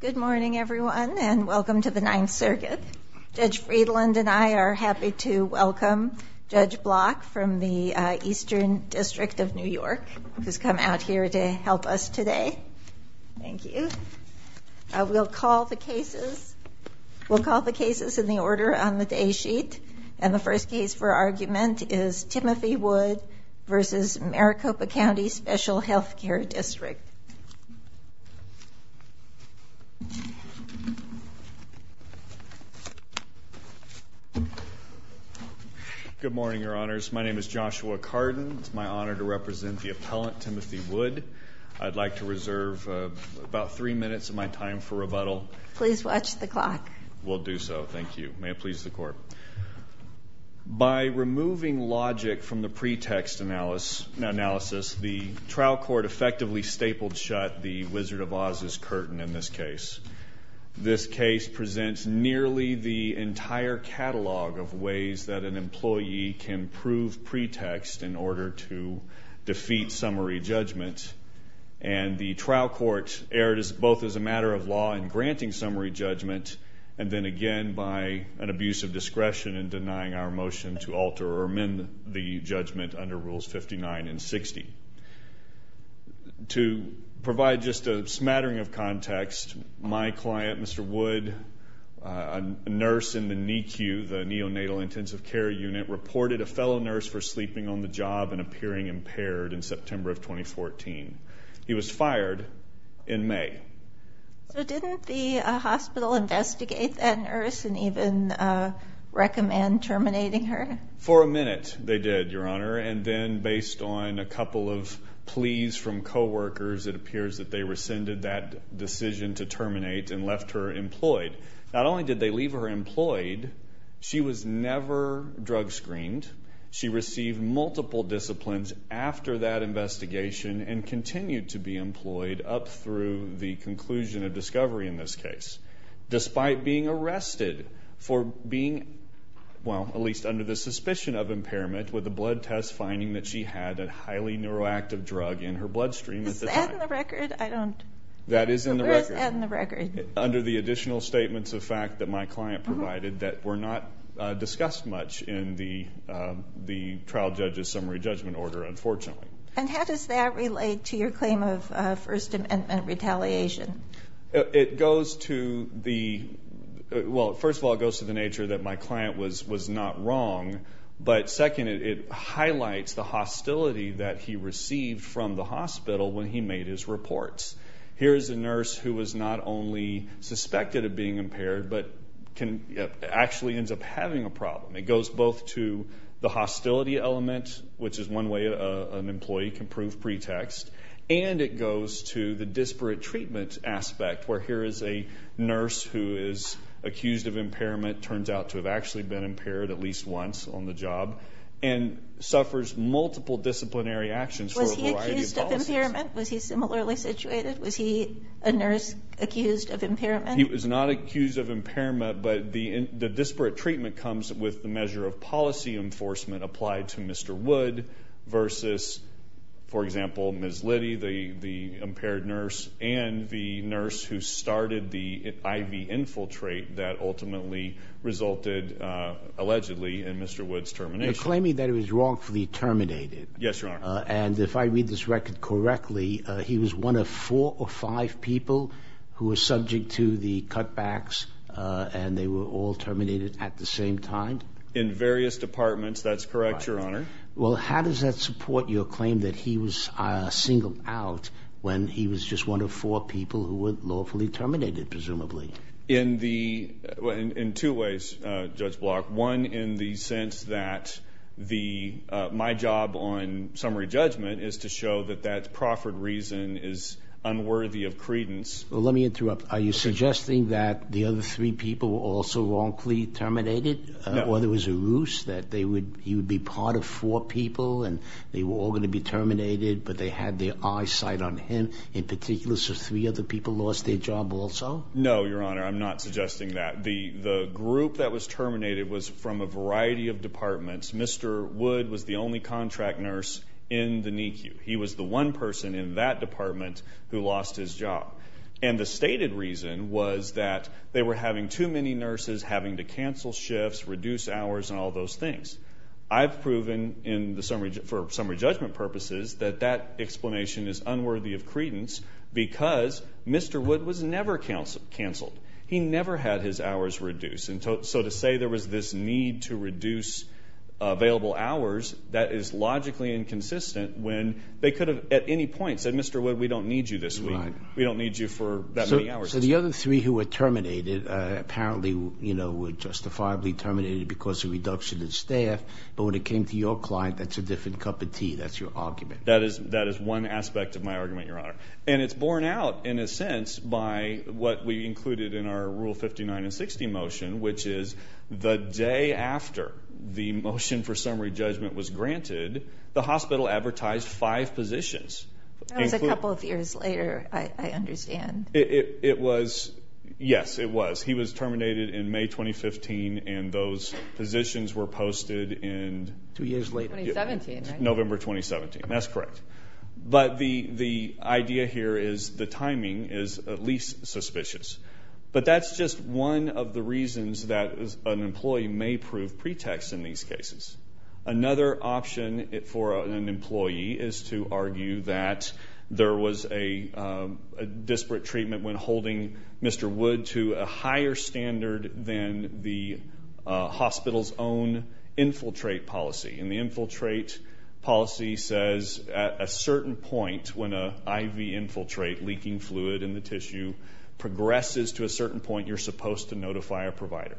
Good morning everyone and welcome to the Ninth Circuit. Judge Friedland and I are happy to welcome Judge Block from the Eastern District of New York, who's come out here to help us today. Thank you. We'll call the cases in the order on the day sheet. And the first case for argument is Timothy Wood v. Maricopa County Special Health District. Good morning, Your Honors. My name is Joshua Carden. It's my honor to represent the appellant, Timothy Wood. I'd like to reserve about three minutes of my time for rebuttal. Please watch the clock. We'll do so. Thank you. May it please the Court. By removing logic from the pretext analysis, the trial court effectively stapled shut the Wizard of Oz's curtain in this case. This case presents nearly the entire catalog of ways that an employee can prove pretext in order to defeat summary judgment. And the trial court erred both as a matter of law in granting summary judgment and then again by an abuse of discretion in denying our motion to alter or amend the judgment under Rules 59 and 60. To provide just a smattering of context, my client, Mr. Wood, a nurse in the NICU, the neonatal intensive care unit, reported a fellow nurse for sleeping on the job and appearing impaired in September of 2014. He was fired in May. So didn't the hospital investigate that nurse and even recommend terminating her? For a minute they did, Your Honor. And then based on a couple of pleas from coworkers, it appears that they rescinded that decision to terminate and left her employed. Not only did they leave her employed, she was never drug screened. She received multiple disciplines after that investigation and continued to be employed up through the conclusion of discovery in this case. Despite being arrested for being, well, at least under the suspicion of impairment with a blood test finding that she had a highly neuroactive drug in her bloodstream at the time. Is that in the record? I don't... That is in the record. So where is that in the record? Under the additional statements of fact that my client provided that were not discussed much in the trial judge's summary judgment order, unfortunately. And how does that relate to your claim of First Amendment retaliation? It goes to the... Well, first of all, it goes to the nature that my client was not wrong. But second, it highlights the hostility that he received from the hospital when he made his reports. Here is a nurse who was not only suspected of being impaired but actually ends up having a problem. It goes both to the hostility element, which is one way an employee can prove pretext, and it goes to the disparate treatment aspect where here is a nurse who is accused of impairment, turns out to have actually been impaired at least once on the job, and suffers multiple disciplinary actions for a variety of policies. Was he accused of impairment? Was he similarly situated? He was not accused of impairment, but the disparate treatment comes with the measure of policy enforcement applied to Mr. Wood versus, for example, Ms. Liddy, the impaired nurse, and the nurse who started the IV infiltrate that ultimately resulted, allegedly, in Mr. Wood's termination. You're claiming that he was wrongfully terminated. Yes, Your Honor. And if I read this record correctly, he was one of four or five people who were subject to the cutbacks, and they were all terminated at the same time? In various departments. That's correct, Your Honor. Well, how does that support your claim that he was singled out when he was just one of four people who were lawfully terminated, presumably? In two ways, Judge Block. One, in the sense that my job on summary judgment is to show that that proffered reason is unworthy of credence. Well, let me interrupt. Are you suggesting that the other three people were also wrongfully terminated? No. Or there was a ruse that he would be part of four people, and they were all going to be terminated, but they had their eye sight on him in particular, so three other people lost their job also? No, Your Honor. I'm not suggesting that. The group that was terminated was from a variety of departments. Mr. Wood was the only contract nurse in the NICU. He was the one person in that department who lost his job. And the stated reason was that they were having too many nurses, having to cancel shifts, reduce hours, and all those things. I've proven for summary judgment purposes that that explanation is unworthy of credence because Mr. Wood was never canceled. He never had his hours reduced. And so to say there was this need to reduce available hours, that is logically inconsistent when they could have at any point said, Mr. Wood, we don't need you this week. We don't need you for that many hours. So the other three who were terminated apparently were justifiably terminated because of reduction in staff, but when it came to your client, that's a different cup of tea. That's your argument. That is one aspect of my argument, Your Honor. And it's borne out, in a sense, by what we included in our Rule 59 and 60 motion, which is the day after the motion for summary judgment was granted, the hospital advertised five positions. That was a couple of years later, I understand. It was. Yes, it was. He was terminated in May 2015, and those positions were posted in November 2017. That's correct. But the idea here is the timing is at least suspicious. But that's just one of the reasons that an employee may prove pretext in these cases. Another option for an employee is to argue that there was a disparate treatment when holding Mr. Wood to a higher standard than the hospital's own infiltrate policy. And the infiltrate policy says at a certain point when an IV infiltrate, leaking fluid in the tissue, progresses to a certain point, you're supposed to notify a provider.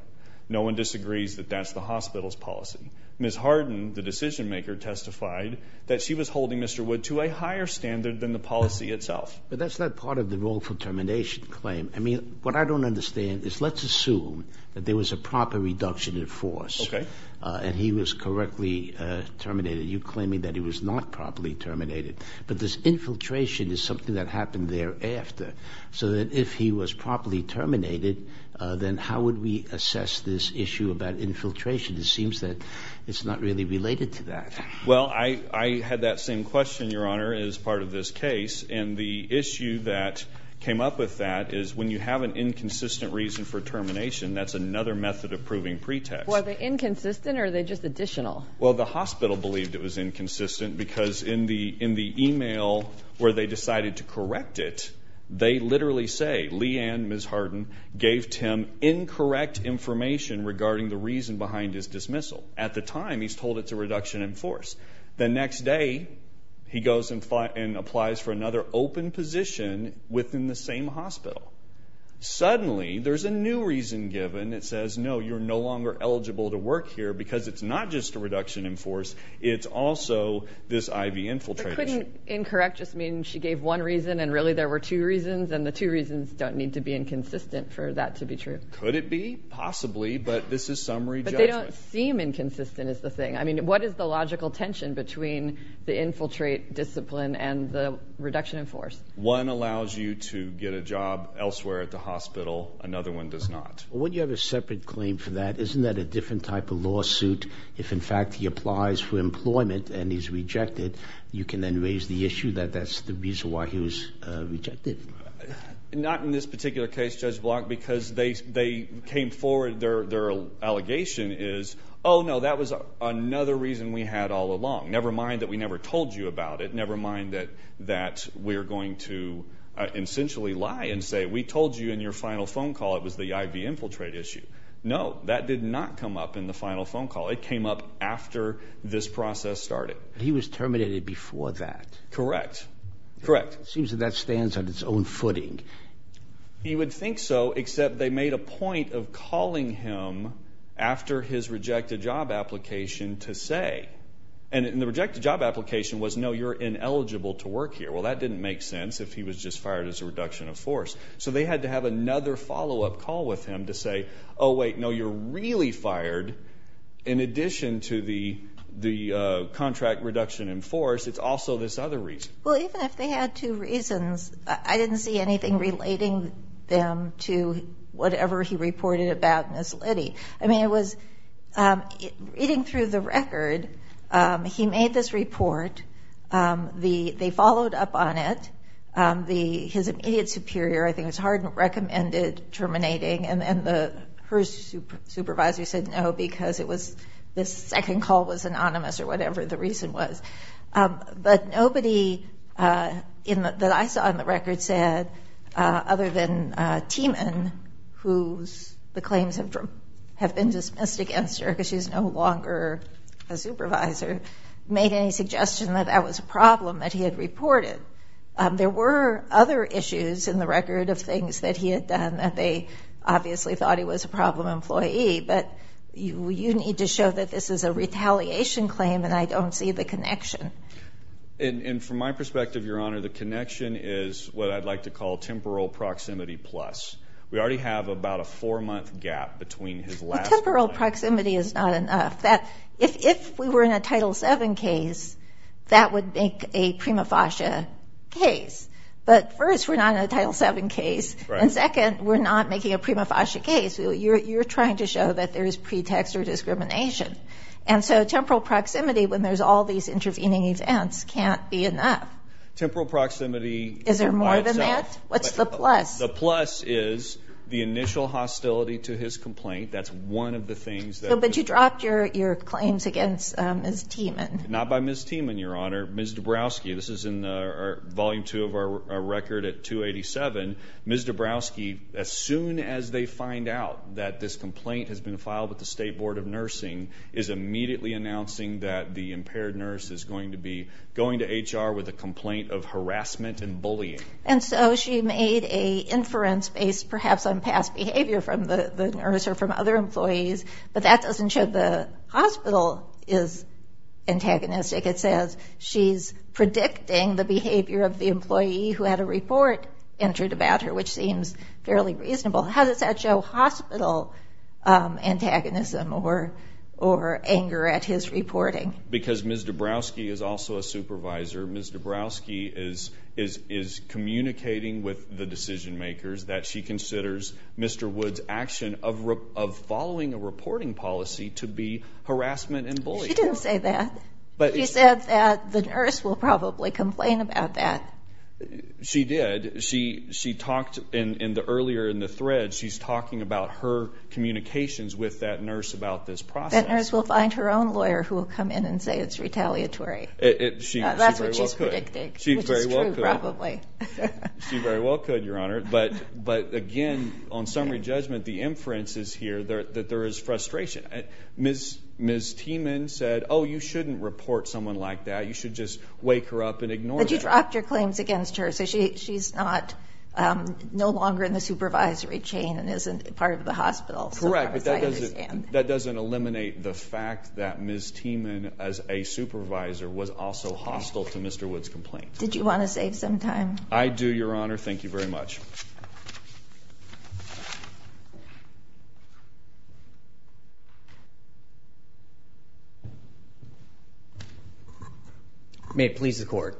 No one disagrees that that's the hospital's policy. Ms. Harden, the decision-maker, testified that she was holding Mr. Wood to a higher standard than the policy itself. But that's not part of the roleful termination claim. I mean, what I don't understand is let's assume that there was a proper reduction in force. Okay. And he was correctly terminated. You're claiming that he was not properly terminated. But this infiltration is something that happened thereafter. So that if he was properly terminated, then how would we assess this issue about infiltration? It seems that it's not really related to that. Well, I had that same question, Your Honor, as part of this case. And the issue that came up with that is when you have an inconsistent reason for termination, that's another method of proving pretext. Were they inconsistent or are they just additional? Well, the hospital believed it was inconsistent because in the e-mail where they decided to correct it, they literally say, Leigh Ann, Ms. Harden, gave Tim incorrect information regarding the reason behind his dismissal. At the time, he's told it's a reduction in force. The next day, he goes and applies for another open position within the same hospital. Suddenly, there's a new reason given. It says, no, you're no longer eligible to work here because it's not just a reduction in force. It's also this IV infiltration. But couldn't incorrect just mean she gave one reason and really there were two reasons, and the two reasons don't need to be inconsistent for that to be true? Could it be? Possibly. But this is summary judgment. But they don't seem inconsistent is the thing. I mean, what is the logical tension between the infiltrate discipline and the reduction in force? One allows you to get a job elsewhere at the hospital. Another one does not. When you have a separate claim for that, isn't that a different type of lawsuit? If, in fact, he applies for employment and he's rejected, you can then raise the issue that that's the reason why he was rejected. Not in this particular case, Judge Block, because they came forward. Their allegation is, oh, no, that was another reason we had all along. Never mind that we never told you about it. Never mind that we're going to essentially lie and say we told you in your final phone call it was the IV infiltrate issue. No, that did not come up in the final phone call. It came up after this process started. He was terminated before that. Correct. Correct. It seems that that stands on its own footing. You would think so, except they made a point of calling him after his rejected job application to say. And the rejected job application was, no, you're ineligible to work here. Well, that didn't make sense if he was just fired as a reduction of force. So they had to have another follow-up call with him to say, oh, wait, no, you're really fired. In addition to the contract reduction in force, it's also this other reason. Well, even if they had two reasons, I didn't see anything relating them to whatever he reported about Ms. Liddy. I mean, it was reading through the record. He made this report. They followed up on it. His immediate superior, I think it was Harden, recommended terminating, and her supervisor said no because the second call was anonymous or whatever the reason was. But nobody that I saw in the record said, other than Tiemann, whose claims have been dismissed against her because she's no longer a supervisor, made any suggestion that that was a problem that he had reported. There were other issues in the record of things that he had done that they obviously thought he was a problem employee. But you need to show that this is a retaliation claim and I don't see the connection. And from my perspective, Your Honor, the connection is what I'd like to call temporal proximity plus. We already have about a four-month gap between his last claim. Temporal proximity is not enough. If we were in a Title VII case, that would make a prima facie case. But first, we're not in a Title VII case, and second, we're not making a prima facie case. You're trying to show that there is pretext or discrimination. And so temporal proximity, when there's all these intervening events, can't be enough. Temporal proximity is by itself. Is there more than that? What's the plus? The plus is the initial hostility to his complaint. That's one of the things that... But you dropped your claims against Ms. Tiemann. Not by Ms. Tiemann, Your Honor. Ms. Dabrowski, this is in Volume 2 of our record at 287. Ms. Dabrowski, as soon as they find out that this complaint has been filed with the State Board of Nursing, is immediately announcing that the impaired nurse is going to be going to HR with a complaint of harassment and bullying. And so she made a inference based perhaps on past behavior from the nurse or from other employees, but that doesn't show the hospital is antagonistic. It says she's predicting the behavior of the employee who had a report entered about her, which seems fairly reasonable. How does that show hospital antagonism or anger at his reporting? Because Ms. Dabrowski is also a supervisor. Ms. Dabrowski is communicating with the decision makers that she considers Mr. Woods' action of following a reporting policy to be harassment and bullying. She didn't say that. She said that the nurse will probably complain about that. She did. She talked earlier in the thread. She's talking about her communications with that nurse about this process. That nurse will find her own lawyer who will come in and say it's retaliatory. That's what she's predicting, which is true probably. She very well could, Your Honor. But, again, on summary judgment, the inference is here that there is frustration. Ms. Tiemann said, oh, you shouldn't report someone like that. You should just wake her up and ignore that. But you dropped your claims against her, so she's no longer in the supervisory chain and isn't part of the hospital. Correct, but that doesn't eliminate the fact that Ms. Tiemann, as a supervisor, was also hostile to Mr. Woods' complaint. Did you want to save some time? I do, Your Honor. Thank you very much. May it please the Court.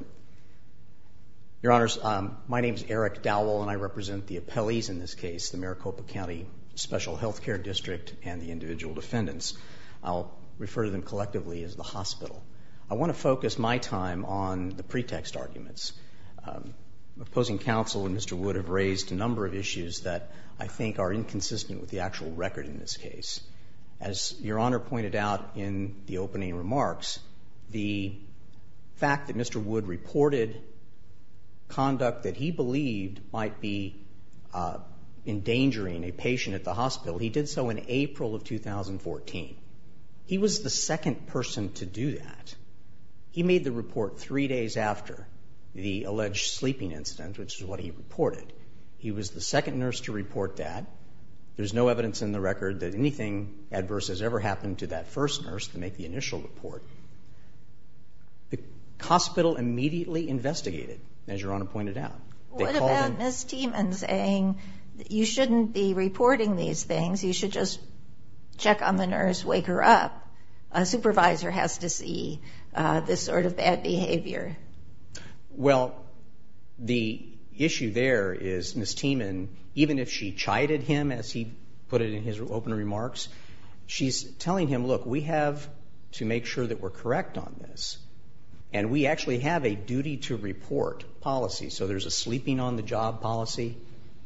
Your Honors, my name is Eric Dowell, and I represent the appellees in this case, the Maricopa County Special Healthcare District and the individual defendants. I'll refer to them collectively as the hospital. I want to focus my time on the pretext arguments. Opposing counsel and Mr. Wood have raised a number of issues that I think are inconsistent with the actual record in this case. As Your Honor pointed out in the opening remarks, the fact that Mr. Wood reported conduct that he believed might be endangering a patient at the hospital, he did so in April of 2014. He was the second person to do that. He made the report three days after the alleged sleeping incident, which is what he reported. He was the second nurse to report that. There's no evidence in the record that anything adverse has ever happened to that first nurse to make the initial report. The hospital immediately investigated, as Your Honor pointed out. What about Ms. Tiemann saying you shouldn't be reporting these things, you should just check on the nurse, wake her up. A supervisor has to see this sort of bad behavior. Well, the issue there is Ms. Tiemann, even if she chided him as he put it in his open remarks, she's telling him, look, we have to make sure that we're correct on this. And we actually have a duty to report policy. So there's a sleeping on the job policy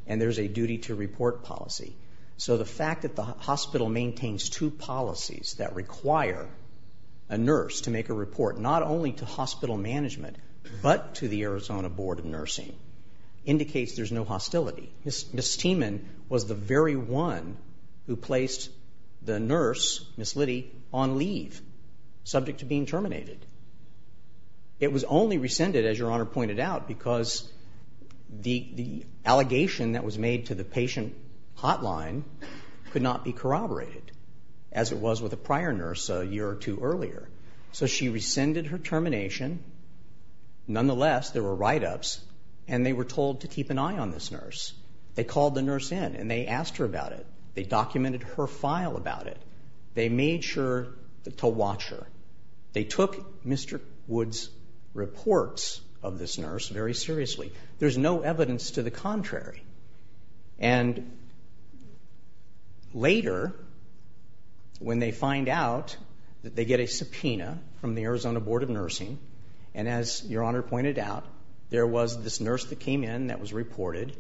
and there's a duty to report policy. So the fact that the hospital maintains two policies that require a nurse to make a report, not only to hospital management but to the Arizona Board of Nursing, indicates there's no hostility. Ms. Tiemann was the very one who placed the nurse, Ms. Liddy, on leave, subject to being terminated. It was only rescinded, as Your Honor pointed out, because the allegation that was made to the patient hotline could not be corroborated, as it was with a prior nurse a year or two earlier. So she rescinded her termination. Nonetheless, there were write-ups and they were told to keep an eye on this nurse. They called the nurse in and they asked her about it. They documented her file about it. They made sure to watch her. They took Mr. Wood's reports of this nurse very seriously. There's no evidence to the contrary. And later, when they find out that they get a subpoena from the Arizona Board of Nursing, and as Your Honor pointed out, there was this nurse that came in that was reported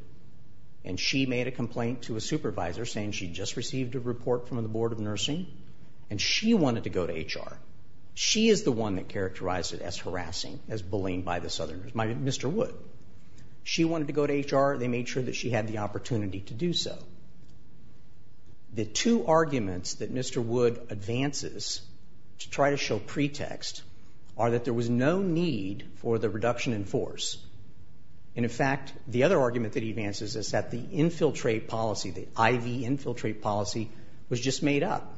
and she made a complaint to a supervisor saying she'd just received a report from the Board of Nursing and she wanted to go to HR. She is the one that characterized it as harassing, as bullying by the southerners, Mr. Wood. She wanted to go to HR. They made sure that she had the opportunity to do so. The two arguments that Mr. Wood advances to try to show pretext are that there was no need for the reduction in force. And, in fact, the other argument that he advances is that the infiltrate policy, the IV infiltrate policy was just made up.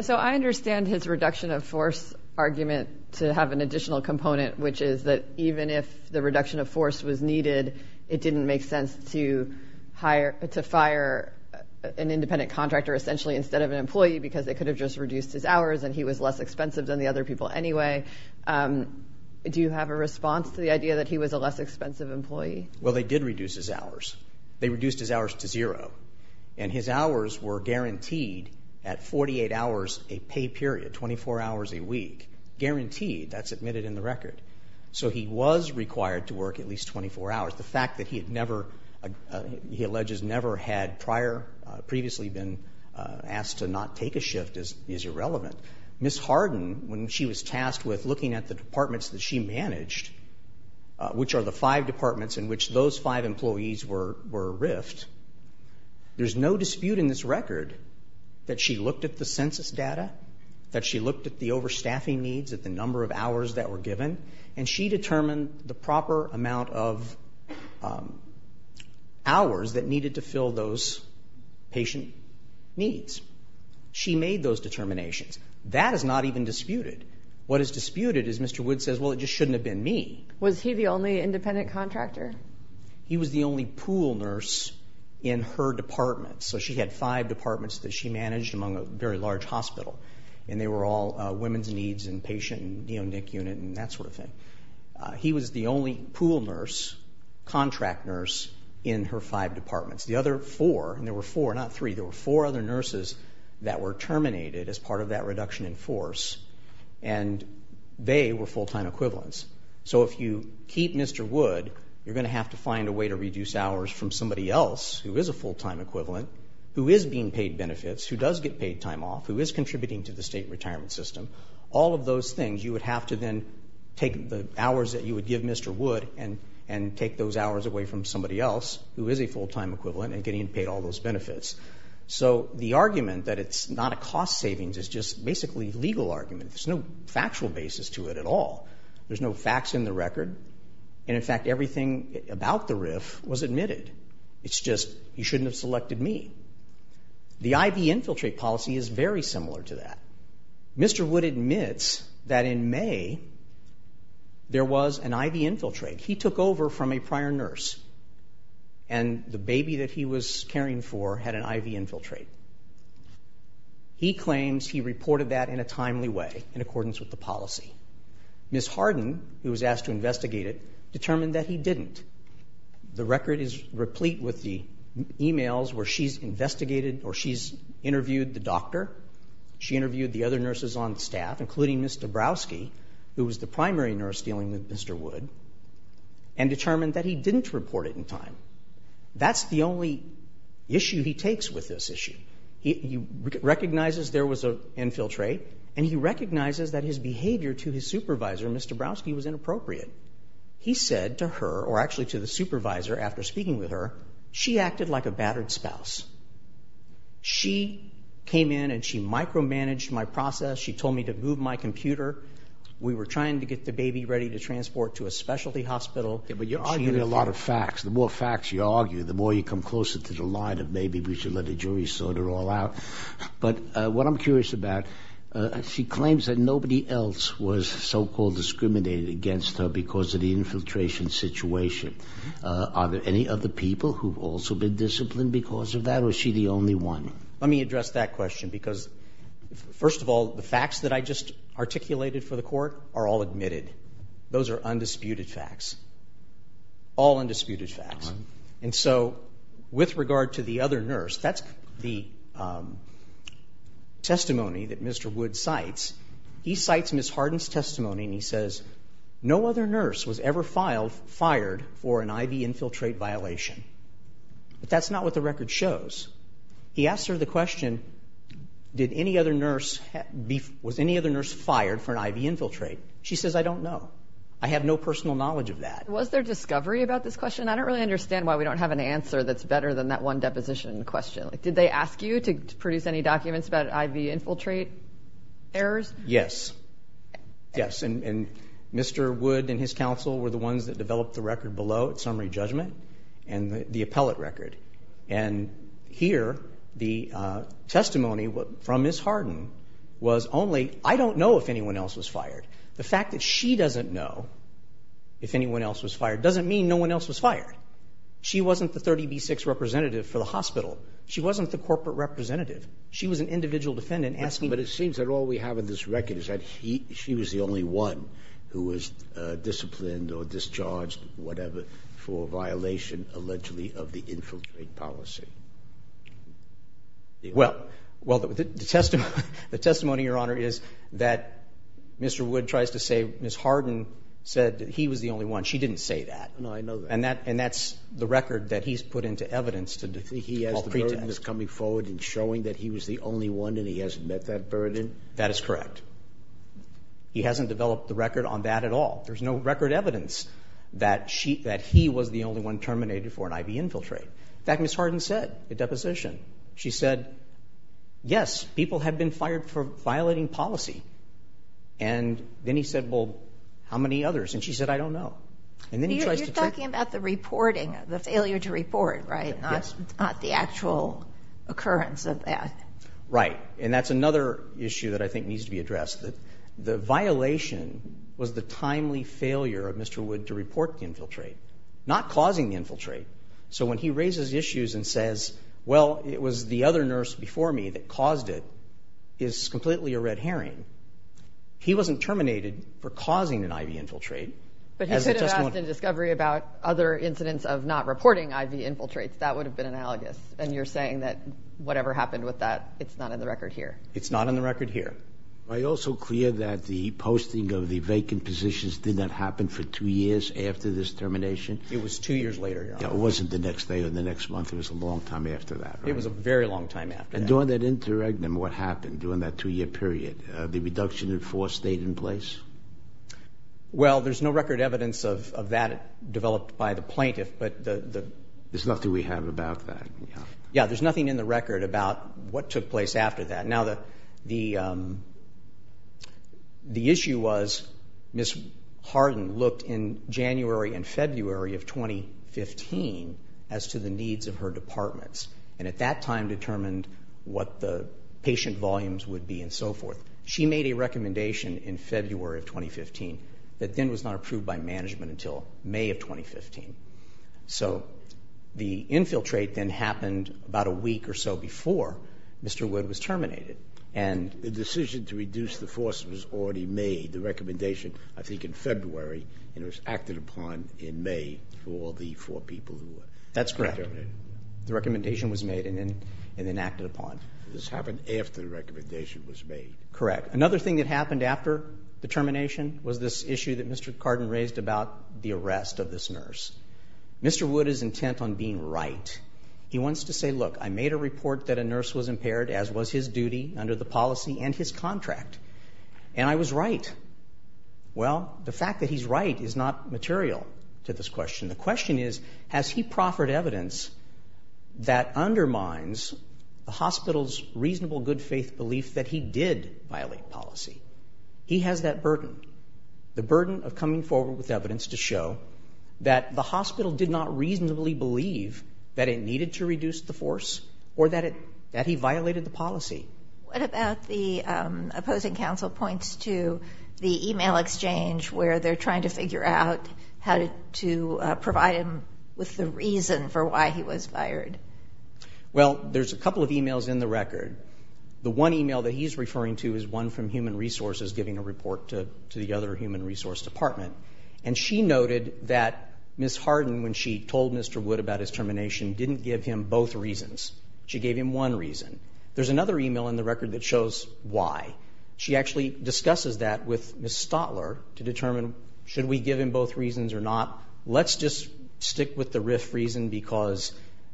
So I understand his reduction of force argument to have an additional component, which is that even if the reduction of force was needed, it didn't make sense to fire an independent contractor essentially instead of an employee because they could have just reduced his hours and he was less expensive than the other people anyway. Do you have a response to the idea that he was a less expensive employee? Well, they did reduce his hours. They reduced his hours to zero. And his hours were guaranteed at 48 hours a pay period, 24 hours a week. Guaranteed. That's admitted in the record. So he was required to work at least 24 hours. The fact that he had never, he alleges, never had prior, previously been asked to not take a shift is irrelevant. Ms. Harden, when she was tasked with looking at the departments that she managed, which are the five departments in which those five employees were riffed, there's no dispute in this record that she looked at the census data, that she looked at the overstaffing needs, at the number of hours that were given, and she determined the proper amount of hours that needed to fill those patient needs. She made those determinations. That is not even disputed. What is disputed is Mr. Wood says, well, it just shouldn't have been me. Was he the only independent contractor? He was the only pool nurse in her department. So she had five departments that she managed among a very large hospital, and they were all women's needs and patient and neonic unit and that sort of thing. He was the only pool nurse, contract nurse, in her five departments. The other four, and there were four, not three, there were four other nurses that were terminated as part of that reduction in force, and they were full-time equivalents. So if you keep Mr. Wood, you're going to have to find a way to reduce hours from somebody else who is a full-time equivalent, who is being paid benefits, who does get paid time off, who is contributing to the state retirement system. All of those things, you would have to then take the hours that you would give Mr. Wood and take those hours away from somebody else who is a full-time equivalent and getting paid all those benefits. So the argument that it's not a cost savings is just basically a legal argument. There's no factual basis to it at all. There's no facts in the record, and, in fact, everything about the RIF was admitted. It's just you shouldn't have selected me. The IV infiltrate policy is very similar to that. Mr. Wood admits that in May there was an IV infiltrate. He took over from a prior nurse, and the baby that he was caring for had an IV infiltrate. He claims he reported that in a timely way in accordance with the policy. Ms. Harden, who was asked to investigate it, determined that he didn't. The record is replete with the e-mails where she's investigated or she's interviewed the doctor, she interviewed the other nurses on staff, including Ms. Dabrowski, who was the primary nurse dealing with Mr. Wood, and determined that he didn't report it in time. That's the only issue he takes with this issue. He recognizes there was an infiltrate, and he recognizes that his behavior to his supervisor, Ms. Dabrowski, was inappropriate. He said to her, or actually to the supervisor after speaking with her, she acted like a battered spouse. She came in and she micromanaged my process. She told me to move my computer. We were trying to get the baby ready to transport to a specialty hospital. But you're arguing a lot of facts. The more facts you argue, the more you come closer to the line of maybe we should let the jury sort it all out. But what I'm curious about, she claims that nobody else was so-called discriminated against her because of the infiltration situation. Are there any other people who have also been disciplined because of that, or is she the only one? Let me address that question because, first of all, the facts that I just articulated for the court are all admitted. Those are undisputed facts, all undisputed facts. And so with regard to the other nurse, that's the testimony that Mr. Wood cites. He cites Ms. Harden's testimony, and he says, no other nurse was ever fired for an IV infiltrate violation. But that's not what the record shows. He asks her the question, was any other nurse fired for an IV infiltrate? She says, I don't know. I have no personal knowledge of that. Was there discovery about this question? I don't really understand why we don't have an answer that's better than that one deposition question. Did they ask you to produce any documents about IV infiltrate errors? Yes, yes. And Mr. Wood and his counsel were the ones that developed the record below at summary judgment and the appellate record. And here, the testimony from Ms. Harden was only, I don't know if anyone else was fired. The fact that she doesn't know if anyone else was fired doesn't mean no one else was fired. She wasn't the 30B6 representative for the hospital. She wasn't the corporate representative. She was an individual defendant asking you. But it seems that all we have in this record is that she was the only one who was disciplined or discharged, whatever, for a violation allegedly of the infiltrate policy. Well, the testimony, Your Honor, is that Mr. Wood tries to say Ms. Harden said that he was the only one. She didn't say that. No, I know that. And that's the record that he's put into evidence to call the pretext. He has the burden of coming forward and showing that he was the only one and he hasn't met that burden? That is correct. He hasn't developed the record on that at all. There's no record evidence that he was the only one terminated for an IV infiltrate. In fact, Ms. Harden said at deposition, she said, yes, people have been fired for violating policy. And then he said, well, how many others? And she said, I don't know. You're talking about the reporting, the failure to report, right? Yes. Not the actual occurrence of that. Right. And that's another issue that I think needs to be addressed. The violation was the timely failure of Mr. Wood to report the infiltrate, not causing the infiltrate. So when he raises issues and says, well, it was the other nurse before me that caused it, is completely a red herring. He wasn't terminated for causing an IV infiltrate. But he could have asked in discovery about other incidents of not reporting IV infiltrates. That would have been analogous. And you're saying that whatever happened with that, it's not in the record here. It's not in the record here. Are you also clear that the posting of the vacant positions did not happen for two years after this termination? It was two years later. It wasn't the next day or the next month. It was a long time after that. It was a very long time after that. And during that interregnum, what happened during that two-year period? The reduction in force stayed in place? Well, there's no record evidence of that developed by the plaintiff. There's nothing we have about that. Yeah, there's nothing in the record about what took place after that. Now, the issue was Ms. Harden looked in January and February of 2015 as to the needs of her departments and at that time determined what the patient volumes would be and so forth. She made a recommendation in February of 2015 that then was not approved by management until May of 2015. So the infiltrate then happened about a week or so before Mr. Wood was terminated. The decision to reduce the force was already made, the recommendation, I think in February, and it was acted upon in May for all the four people who were terminated. That's correct. The recommendation was made and then acted upon. This happened after the recommendation was made. Correct. Another thing that happened after the termination was this issue that Mr. Carden raised about the arrest of this nurse. Mr. Wood is intent on being right. He wants to say, look, I made a report that a nurse was impaired, as was his duty, under the policy and his contract, and I was right. Well, the fact that he's right is not material to this question. The question is, has he proffered evidence that undermines the hospital's reasonable good faith belief that he did violate policy? He has that burden, the burden of coming forward with evidence to show that the hospital did not reasonably believe that it needed to reduce the force or that he violated the policy. What about the opposing counsel points to the e-mail exchange where they're trying to figure out how to provide him with the reason for why he was fired? Well, there's a couple of e-mails in the record. The one e-mail that he's referring to is one from Human Resources, giving a report to the other Human Resource Department. And she noted that Ms. Harden, when she told Mr. Wood about his termination, didn't give him both reasons. She gave him one reason. There's another e-mail in the record that shows why. She actually discusses that with Ms. Stotler to determine, should we give him both reasons or not? Let's just stick with the RIF reason because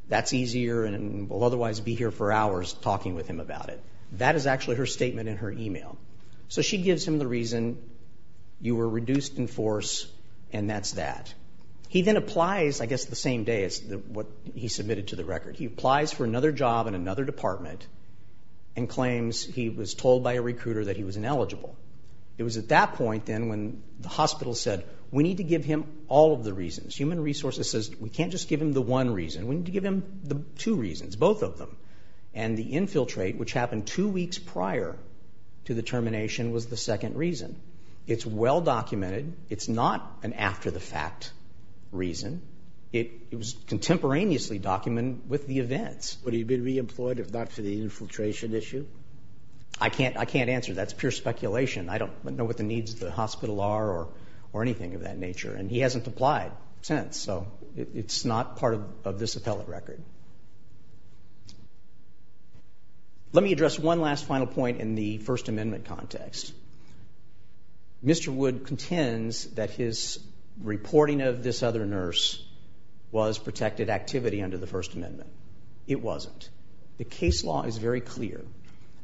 that's easier and we'll otherwise be here for hours talking with him about it. That is actually her statement in her e-mail. So she gives him the reason. You were reduced in force, and that's that. He then applies, I guess the same day as what he submitted to the record. He applies for another job in another department and claims he was told by a recruiter that he was ineligible. It was at that point, then, when the hospital said, we need to give him all of the reasons. Human Resources says, we can't just give him the one reason. We need to give him the two reasons, both of them. And the infiltrate, which happened two weeks prior to the termination, was the second reason. It's well documented. It's not an after-the-fact reason. It was contemporaneously documented with the events. Would he have been re-employed if not for the infiltration issue? I can't answer. That's pure speculation. I don't know what the needs of the hospital are or anything of that nature, and he hasn't applied since, so it's not part of this appellate record. Let me address one last final point in the First Amendment context. Mr. Wood contends that his reporting of this other nurse was protected activity under the First Amendment. It wasn't. The case law is very clear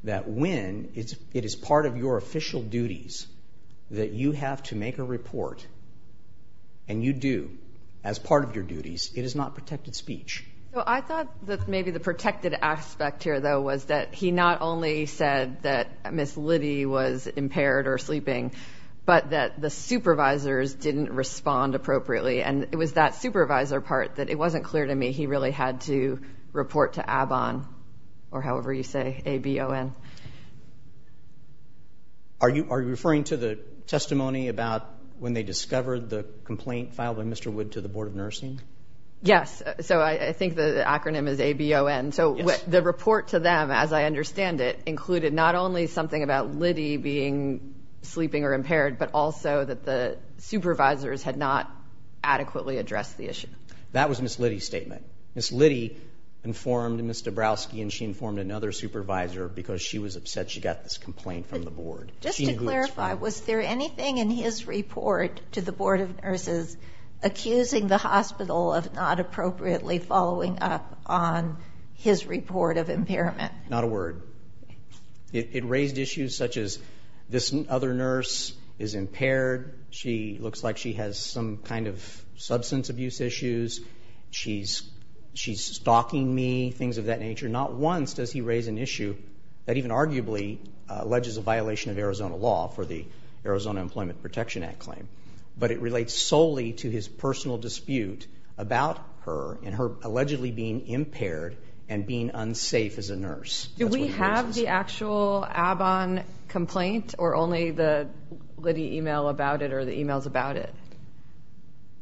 that when it is part of your official duties that you have to make a report, and you do, as part of your duties, it is not protected speech. I thought that maybe the protected aspect here, though, was that he not only said that Ms. Liddy was impaired or sleeping, but that the supervisors didn't respond appropriately, and it was that supervisor part that it wasn't clear to me he really had to report to ABON, or however you say, A-B-O-N. Are you referring to the testimony about when they discovered the complaint filed by Mr. Wood to the Board of Nursing? Yes. So I think the acronym is A-B-O-N. So the report to them, as I understand it, included not only something about Liddy being sleeping or impaired, but also that the supervisors had not adequately addressed the issue. That was Ms. Liddy's statement. Ms. Liddy informed Ms. Dabrowski, and she informed another supervisor, because she was upset she got this complaint from the Board. Just to clarify, was there anything in his report to the Board of Nurses accusing the hospital of not appropriately following up on his report of impairment? Not a word. It raised issues such as this other nurse is impaired, she looks like she has some kind of substance abuse issues, she's stalking me, things of that nature. Not once does he raise an issue that even arguably alleges a violation of Arizona law for the Arizona Employment Protection Act claim. But it relates solely to his personal dispute about her and her allegedly being impaired and being unsafe as a nurse. Do we have the actual ABON complaint or only the Liddy email about it or the emails about it?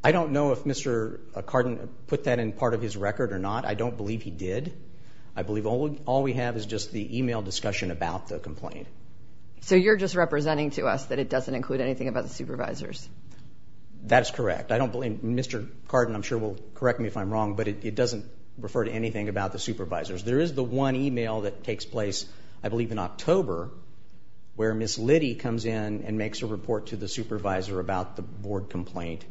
I don't know if Mr. Cardin put that in part of his record or not. I don't believe he did. I believe all we have is just the email discussion about the complaint. So you're just representing to us that it doesn't include anything about the supervisors? That is correct. I don't believe Mr. Cardin, I'm sure, will correct me if I'm wrong, but it doesn't refer to anything about the supervisors. There is the one email that takes place, I believe in October, where Ms. Liddy comes in and makes a report to the supervisor about the board complaint,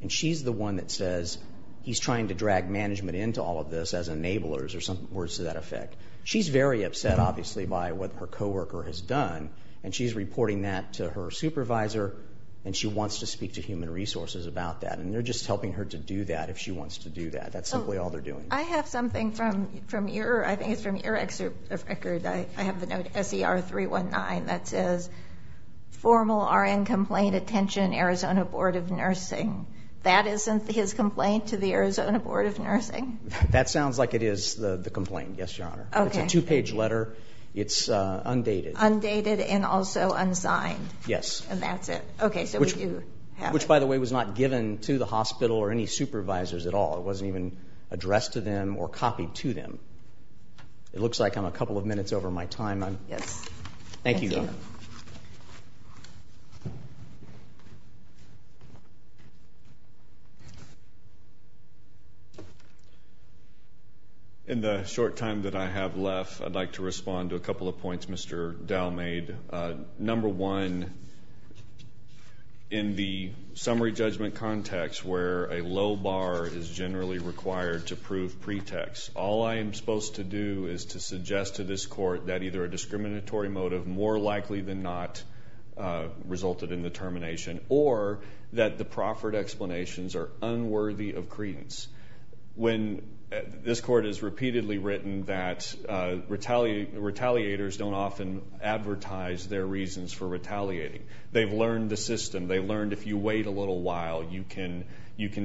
and she's the one that says he's trying to drag management into all of this as enablers or some words to that effect. She's very upset, obviously, by what her coworker has done, and she's reporting that to her supervisor, and she wants to speak to human resources about that. And they're just helping her to do that if she wants to do that. That's simply all they're doing. I have something from your, I think it's from your record, I have the note SER319 that says, formal RN complaint attention Arizona Board of Nursing. That isn't his complaint to the Arizona Board of Nursing? That sounds like it is the complaint, yes, Your Honor. Okay. It's a two-page letter. It's undated. Undated and also unsigned. Yes. And that's it. Okay, so we do have it. Which, by the way, was not given to the hospital or any supervisors at all. It wasn't even addressed to them or copied to them. It looks like I'm a couple of minutes over my time. Yes. Thank you, Your Honor. Thank you. Thank you. In the short time that I have left, I'd like to respond to a couple of points Mr. Dow made. Number one, in the summary judgment context where a low bar is generally required to prove pretext, all I am supposed to do is to suggest to this court that either a or that the proffered explanations are unworthy of credence. This court has repeatedly written that retaliators don't often advertise their reasons for retaliating. They've learned the system. They've learned if you wait a little while, you can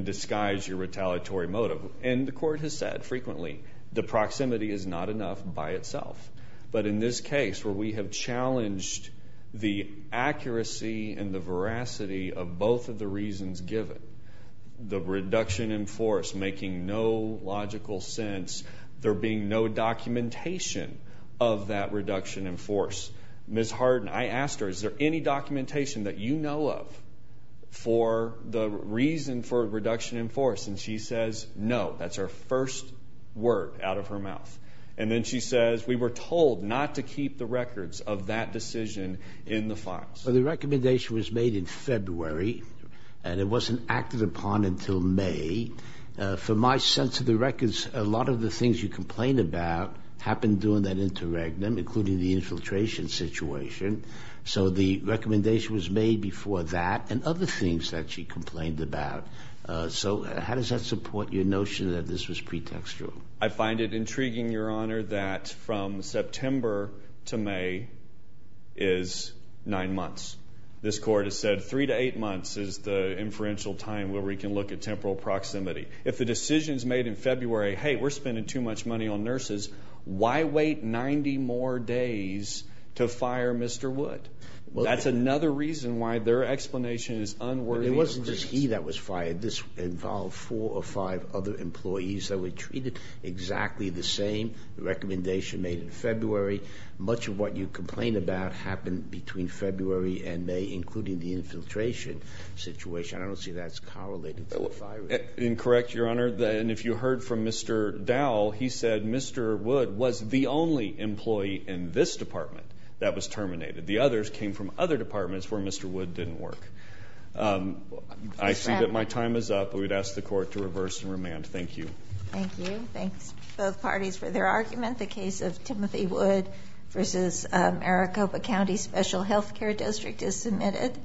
disguise your retaliatory motive. And the court has said frequently the proximity is not enough by itself. But in this case where we have challenged the accuracy and the veracity of both of the reasons given, the reduction in force making no logical sense, there being no documentation of that reduction in force. Ms. Harden, I asked her, is there any documentation that you know of for the reason for reduction in force? And she says no. That's her first word out of her mouth. And then she says, we were told not to keep the records of that decision in the files. Well, the recommendation was made in February and it wasn't acted upon until May. For my sense of the records, a lot of the things you complained about happened during that interregnum, including the infiltration situation. So the recommendation was made before that and other things that she complained about. So how does that support your notion that this was pretextual? I find it intriguing, Your Honor, that from September to May is nine months. This court has said three to eight months is the inferential time where we can look at temporal proximity. If the decision is made in February, hey, we're spending too much money on nurses. Why wait 90 more days to fire Mr. Wood? Well, that's another reason why their explanation is unworthy. It wasn't just he that was fired. This involved four or five other employees that were treated exactly the same. The recommendation made in February. Much of what you complain about happened between February and May, including the infiltration situation. I don't see that as correlated to firing. Incorrect, Your Honor. And if you heard from Mr. Dowell, he said Mr. Wood was the only employee in this department that was terminated. The others came from other departments where Mr. Wood didn't work. I see that my time is up. We'd ask the court to reverse and remand. Thank you. Thank you. Thanks. Both parties for their argument. The case of Timothy Wood versus Maricopa County Special Healthcare District is submitted.